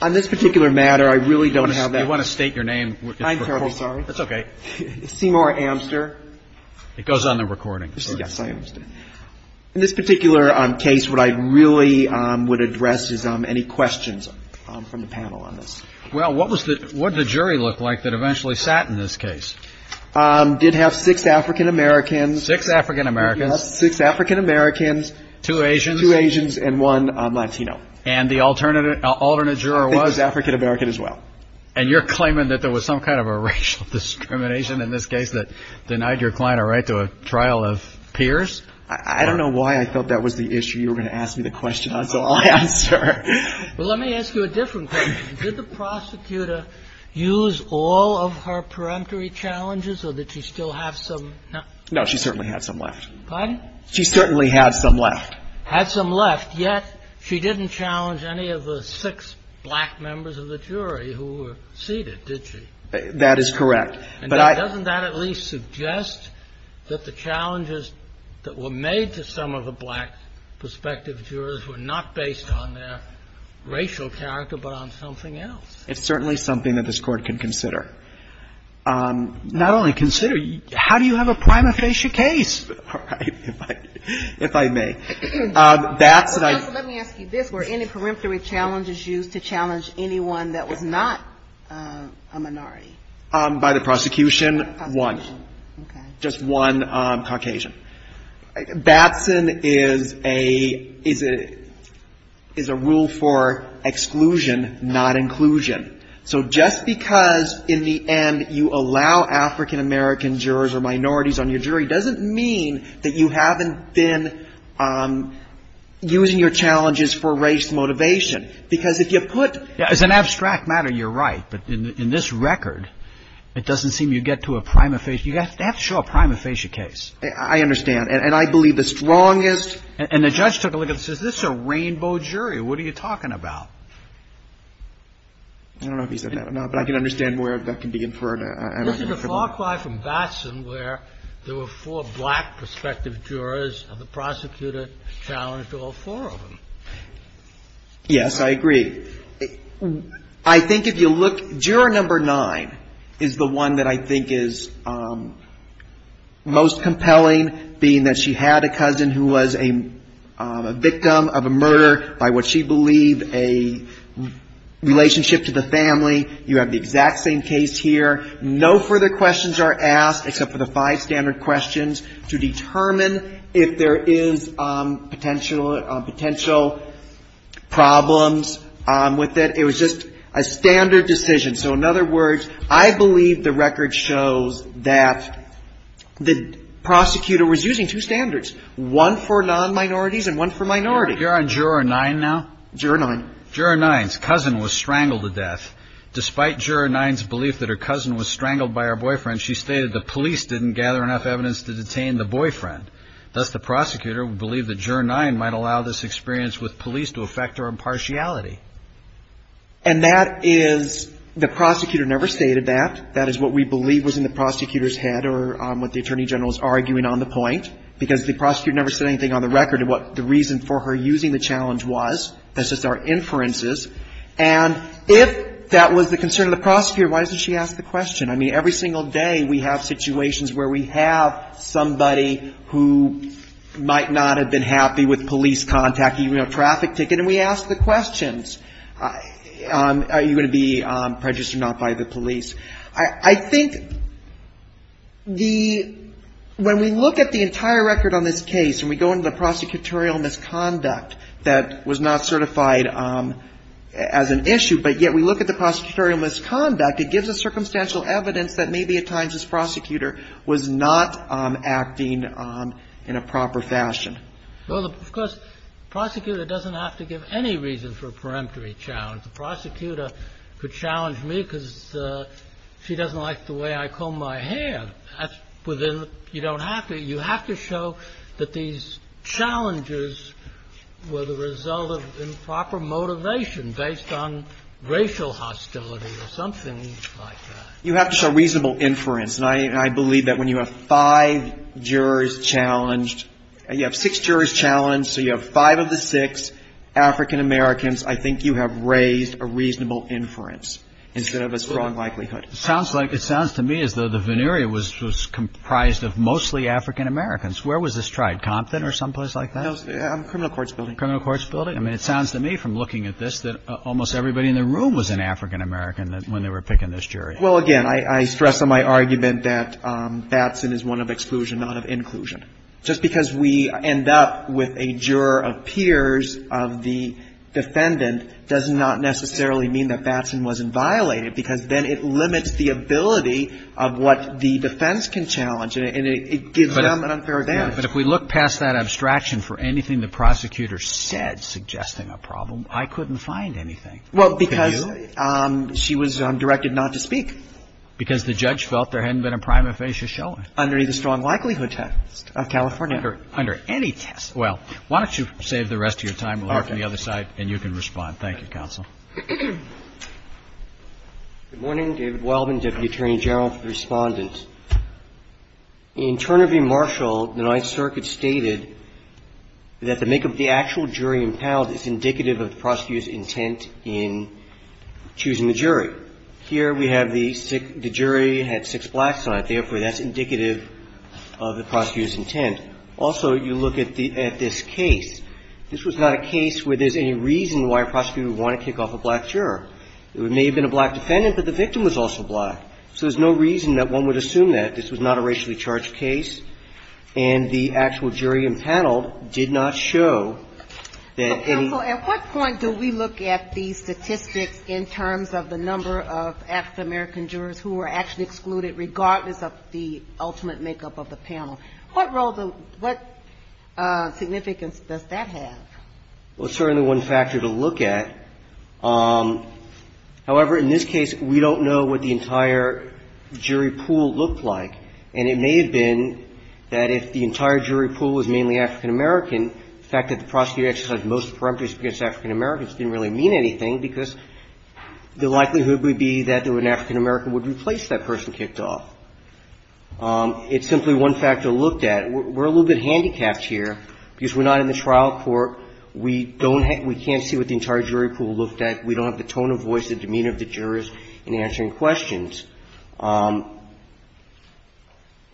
on this particular matter. I really don't have that. I want to state your name. I'm sorry. That's okay. Seymour Amster. It goes on the recording. Yes, I understand. In this particular case, what I really would address is any questions from the panel on this. Well, what did the jury look like that eventually sat in this case? Did have six African-Americans. Six African-Americans. Six African-Americans. Two Asians. Two Asians and one Latino. And the alternate juror was? I think it was African-American as well. And you're claiming that there was some kind of a racial discrimination in this case that denied your client a right to a trial of peers? I don't know why I thought that was the issue you were going to ask me the question on, so I'll answer. Well, let me ask you a different question. Did the prosecutor use all of her peremptory challenges or did she still have some? No, she certainly had some left. Pardon? She certainly had some left. Had some left. But yet she didn't challenge any of the six black members of the jury who were seated, did she? That is correct. And doesn't that at least suggest that the challenges that were made to some of the black prospective jurors were not based on their racial character but on something else? It's certainly something that this Court can consider. Not only consider, how do you have a prima facie case? If I may. Well, counsel, let me ask you this. Were any peremptory challenges used to challenge anyone that was not a minority? By the prosecution, one. Okay. Just one Caucasian. Batson is a rule for exclusion, not inclusion. So just because in the end you allow African-American jurors or minorities on your jury doesn't mean that you haven't been using your challenges for race motivation. Because if you put as an abstract matter, you're right. But in this record, it doesn't seem you get to a prima facie. You have to show a prima facie case. I understand. And I believe the strongest. And the judge took a look and says, this is a rainbow jury. What are you talking about? I don't know if he said that or not, but I can understand where that can be inferred. This is a far cry from Batson where there were four black prospective jurors and the prosecutor challenged all four of them. Yes, I agree. I think if you look, juror number nine is the one that I think is most compelling, being that she had a cousin who was a victim of a murder, by what she believed a relationship to the family. You have the exact same case here. No further questions are asked except for the five standard questions to determine if there is potential problems with it. It was just a standard decision. So in other words, I believe the record shows that the prosecutor was using two standards, one for non-minorities and one for minorities. You're on juror nine now? Juror nine. Juror nine's cousin was strangled to death. Despite juror nine's belief that her cousin was strangled by her boyfriend, she stated the police didn't gather enough evidence to detain the boyfriend. Thus, the prosecutor believed that juror nine might allow this experience with police to affect her impartiality. And that is, the prosecutor never stated that. That is what we believe was in the prosecutor's head or what the attorney general is arguing on the point, because the prosecutor never said anything on the record of what the reason for her using the challenge was. That's just our inferences. And if that was the concern of the prosecutor, why doesn't she ask the question? I mean, every single day we have situations where we have somebody who might not have been happy with police contacting even a traffic ticket, and we ask the questions. Are you going to be prejudiced or not by the police? I think the – when we look at the entire record on this case and we go into the prosecutorial misconduct that was not certified as an issue, but yet we look at the prosecutorial misconduct, it gives us circumstantial evidence that maybe at times this prosecutor was not acting in a proper fashion. Well, of course, the prosecutor doesn't have to give any reason for a peremptory challenge. The prosecutor could challenge me because she doesn't like the way I comb my hair. But that's within the – you don't have to. You have to show that these challenges were the result of improper motivation based on racial hostility or something like that. You have to show reasonable inference. And I believe that when you have five jurors challenged, you have six jurors challenged, so you have five of the six African Americans, I think you have raised a reasonable inference instead of a strong likelihood. It sounds like – it sounds to me as though the veneer was comprised of mostly African Americans. Where was this tried? Compton or someplace like that? No. Criminal Courts Building. Criminal Courts Building. I mean, it sounds to me from looking at this that almost everybody in the room was an African American when they were picking this jury. Well, again, I stress on my argument that Batson is one of exclusion, not of inclusion. Just because we end up with a juror of peers of the defendant does not necessarily mean that Batson wasn't violated because then it limits the ability of what the defense can challenge, and it gives them an unfair advantage. But if we look past that abstraction for anything the prosecutor said suggesting a problem, I couldn't find anything. Well, because she was directed not to speak. Because the judge felt there hadn't been a prima facie showing. Under the strong likelihood test of California. Under any test. Well, why don't you save the rest of your time. We'll hear from the other side, and you can respond. Thank you, Counsel. Good morning. David Wildman, Deputy Attorney General for the Respondent. In Turnery v. Marshall, the Ninth Circuit stated that the make of the actual jury impound is indicative of the prosecutor's intent in choosing the jury. Here we have the jury had six blacks on it. Therefore, that's indicative of the prosecutor's intent. Also, you look at this case. This was not a case where there's any reason why a prosecutor would want to kick off a black juror. It may have been a black defendant, but the victim was also black. So there's no reason that one would assume that. This was not a racially charged case. And the actual jury impound did not show that any. But, Counsel, at what point do we look at these statistics in terms of the number of African-American jurors who were actually excluded, regardless of the ultimate makeup of the panel? What role do the – what significance does that have? Well, it's certainly one factor to look at. However, in this case, we don't know what the entire jury pool looked like. And it may have been that if the entire jury pool was mainly African-American, the fact that the prosecutor exercised most of the preemptives against African-Americans didn't really mean anything, because the likelihood would be that an African-American would replace that person kicked off. It's simply one factor to look at. We're a little bit handicapped here because we're not in the trial court. We don't have – we can't see what the entire jury pool looked at. We don't have the tone of voice, the demeanor of the jurors in answering questions.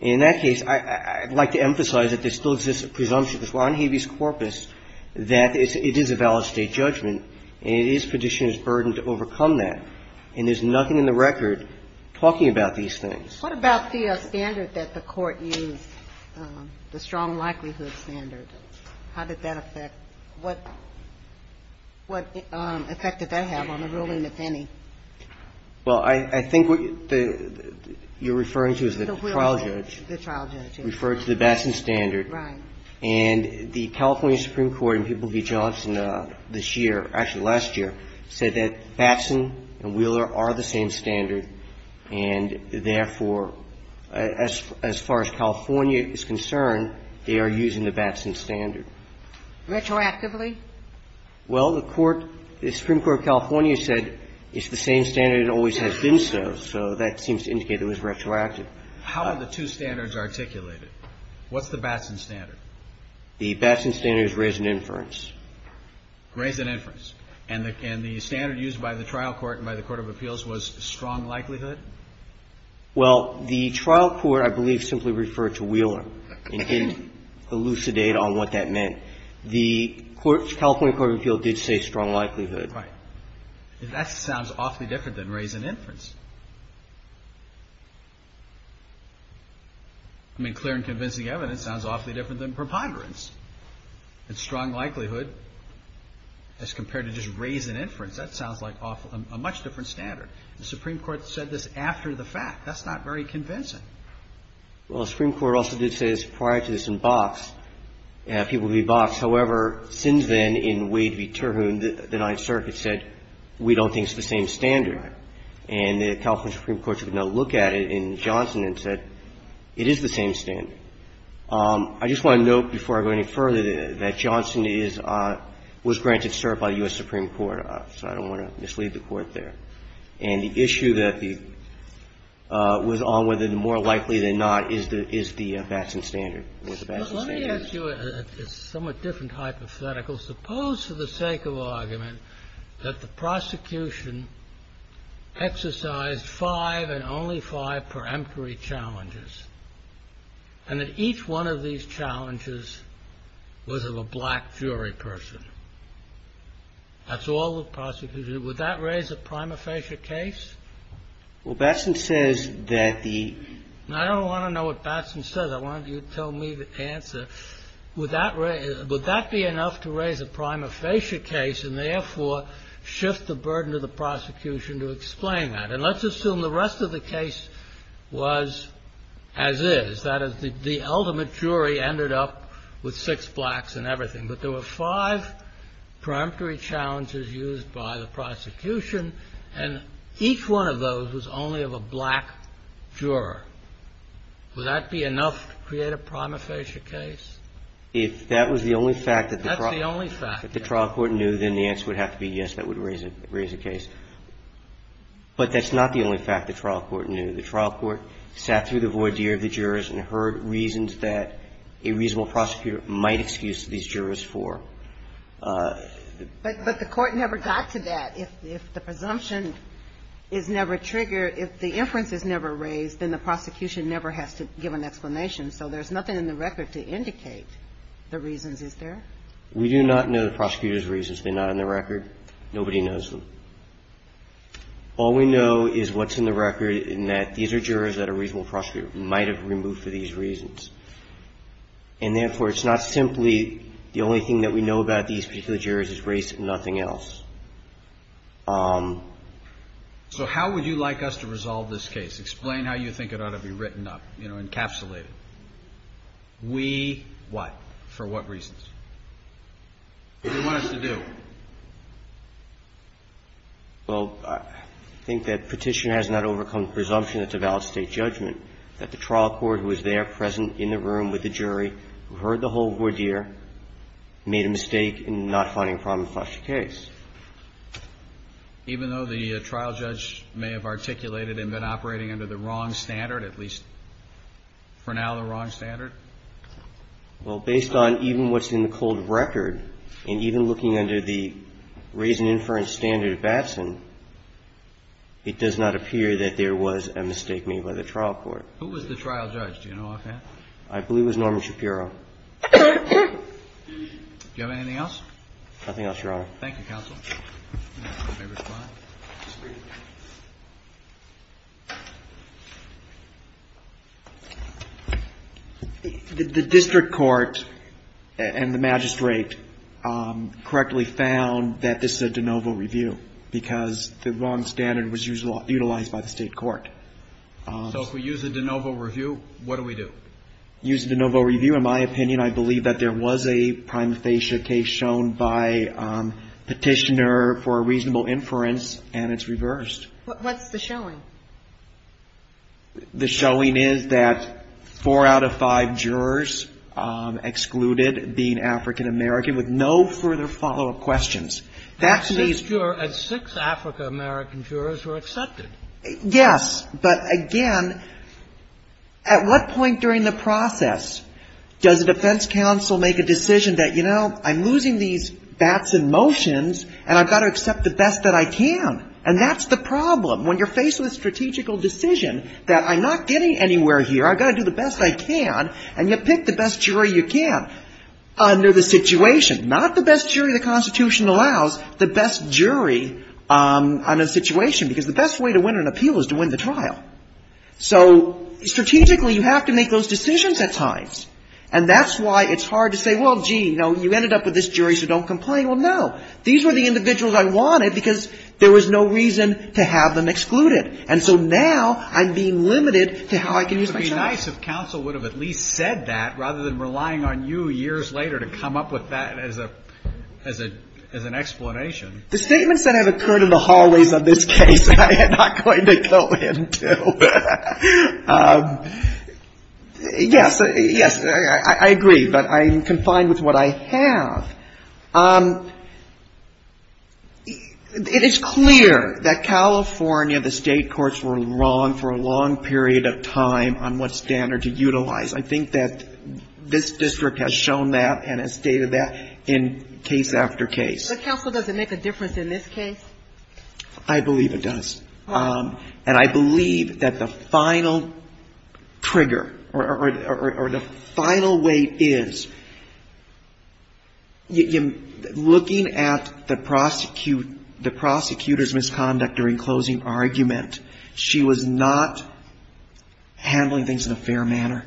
In that case, I'd like to emphasize that there still exists a presumption that's on habeas corpus that it is a valid State judgment, and it is Petitioner's burden to overcome that. And there's nothing in the record talking about these things. What about the standard that the Court used, the strong likelihood standard? How did that affect – what effect did that have on the ruling, if any? Well, I think what you're referring to is the trial judge. The trial judge, yes. Referred to the Batson standard. Right. And the California Supreme Court in People v. Johnson this year, actually last year, said that Batson and Wheeler are the same standard, and therefore, as far as California is concerned, they are using the Batson standard. Retroactively? Well, the Court – the Supreme Court of California said it's the same standard and always has been so, so that seems to indicate it was retroactive. How are the two standards articulated? What's the Batson standard? The Batson standard is raise and inference. Raise and inference. And the standard used by the trial court and by the Court of Appeals was strong likelihood? Well, the trial court, I believe, simply referred to Wheeler. It didn't elucidate on what that meant. The California Court of Appeals did say strong likelihood. Right. That sounds awfully different than raise and inference. I mean, clear and convincing evidence sounds awfully different than preponderance. And strong likelihood, as compared to just raise and inference, that sounds like awful – a much different standard. The Supreme Court said this after the fact. That's not very convincing. Well, the Supreme Court also did say this prior to this in Box. People v. Box. However, since then, in Wade v. Terhune, the Ninth Circuit said we don't think it's the same standard. Right. And the California Supreme Court took another look at it in Johnson and said it is the same standard. I just want to note, before I go any further, that Johnson is – was granted cert by the U.S. Supreme Court. So I don't want to mislead the Court there. And the issue that the – was on whether the more likely than not is the – is the Batson standard. Was the Batson standard? Let me ask you a somewhat different hypothetical. Suppose, for the sake of argument, that the prosecution exercised five and only five for emptory challenges, and that each one of these challenges was of a black jury person. That's all the prosecution – would that raise a prima facie case? Well, Batson says that the – I don't want to know what Batson says. I want you to tell me the answer. Would that – would that be enough to raise a prima facie case and, therefore, shift the burden to the prosecution to explain that? And let's assume the rest of the case was as is. That is, the ultimate jury ended up with six blacks and everything. But there were five preemptory challenges used by the prosecution, and each one of those was only of a black juror. Would that be enough to create a prima facie case? If that was the only fact that the trial court knew, then the answer would have to be yes, that would raise a case. But that's not the only fact the trial court knew. The trial court sat through the voir dire of the jurors and heard reasons that a reasonable prosecutor might excuse these jurors for. But the court never got to that. If the presumption is never triggered, if the inference is never raised, then the prosecution never has to give an explanation. So there's nothing in the record to indicate the reasons, is there? We do not know the prosecutor's reasons. They're not in the record. Nobody knows them. All we know is what's in the record and that these are jurors that a reasonable prosecutor might have removed for these reasons. And therefore, it's not simply the only thing that we know about these particular jurors is race and nothing else. So how would you like us to resolve this case? Explain how you think it ought to be written up, you know, encapsulated. We what? For what reasons? What do you want us to do? Well, I think that Petitioner has not overcome the presumption that it's a valid State judgment, that the trial court was there, present in the room with the jury, heard the whole voir dire, made a mistake in not finding a problem with such a case. Even though the trial judge may have articulated and been operating under the wrong standard, at least for now the wrong standard? Well, based on even what's in the cold record and even looking under the reason inference standard of Batson, it does not appear that there was a mistake made by the trial court. Who was the trial judge? Do you know offhand? I believe it was Norman Shapiro. Do you have anything else? Nothing else, Your Honor. Thank you, counsel. May I respond? The district court and the magistrate correctly found that this is a de novo review because the wrong standard was utilized by the State court. So if we use a de novo review, what do we do? Use a de novo review. In my opinion, I believe that there was a prime facia case shown by Petitioner for a reasonable inference, and it's reversed. What's the showing? The showing is that four out of five jurors excluded being African-American with no further follow-up questions. That means that six African-American jurors were accepted. Yes. But, again, at what point during the process does a defense counsel make a decision that, you know, I'm losing these Batson motions, and I've got to accept the best that I can? And that's the problem. When you're faced with a strategical decision that I'm not getting anywhere here, I've got to do the best I can, and you pick the best jury you can under the situation, not the best jury the Constitution allows, the best jury on a situation, because the best way to win an appeal is to win the trial. So strategically, you have to make those decisions at times. And that's why it's hard to say, well, gee, you know, you ended up with this jury, so don't complain. Well, no. These were the individuals I wanted because there was no reason to have them excluded. And so now I'm being limited to how I can use my choice. It would be nice if counsel would have at least said that rather than relying on you years later to come up with that as an explanation. The statements that have occurred in the hallways of this case I am not going to go into. Yes. Yes. I agree. But I'm confined with what I have. It is clear that California, the State courts were wrong for a long period of time on what standard to utilize. I think that this district has shown that and has stated that in case after case. But counsel, does it make a difference in this case? I believe it does. And I believe that the final trigger or the final weight is looking at the prosecutor's misconduct during closing argument, she was not handling things in a fair manner.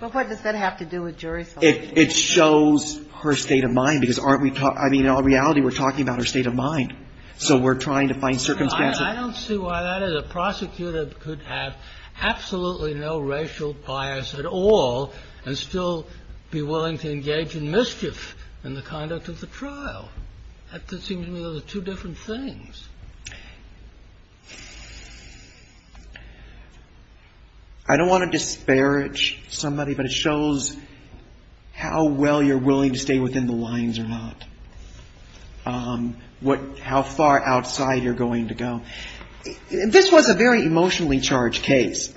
But what does that have to do with jury selection? Well, it shows her state of mind, because aren't we talking, I mean, in all reality we're talking about her state of mind. So we're trying to find circumstances. I don't see why that is. A prosecutor could have absolutely no racial bias at all and still be willing to engage in mischief in the conduct of the trial. That seems to me those are two different things. I don't want to disparage somebody, but it shows how well you're willing to stay within the lines or not, how far outside you're going to go. This was a very emotionally charged case.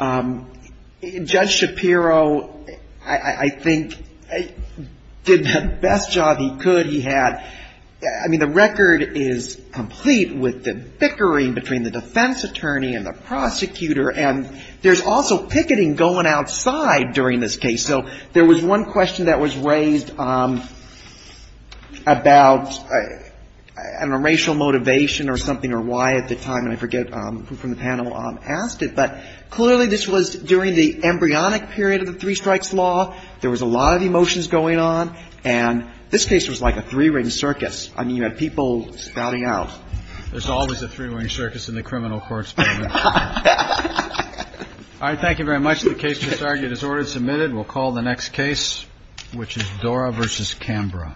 Judge Shapiro, I think, did the best job he could. I mean, the record is complete with the bickering between the defense attorney and the prosecutor. And there's also picketing going outside during this case. So there was one question that was raised about, I don't know, racial motivation or something or why at the time, and I forget who from the panel asked it. But clearly this was during the embryonic period of the three strikes law. There was a lot of emotions going on. And this case was like a three-ring circus. I mean, you had people spouting out. There's always a three-ring circus in the criminal courts. All right. Thank you very much. The case is argued as ordered and submitted. We'll call the next case, which is Dora v. Cambra. Thank you.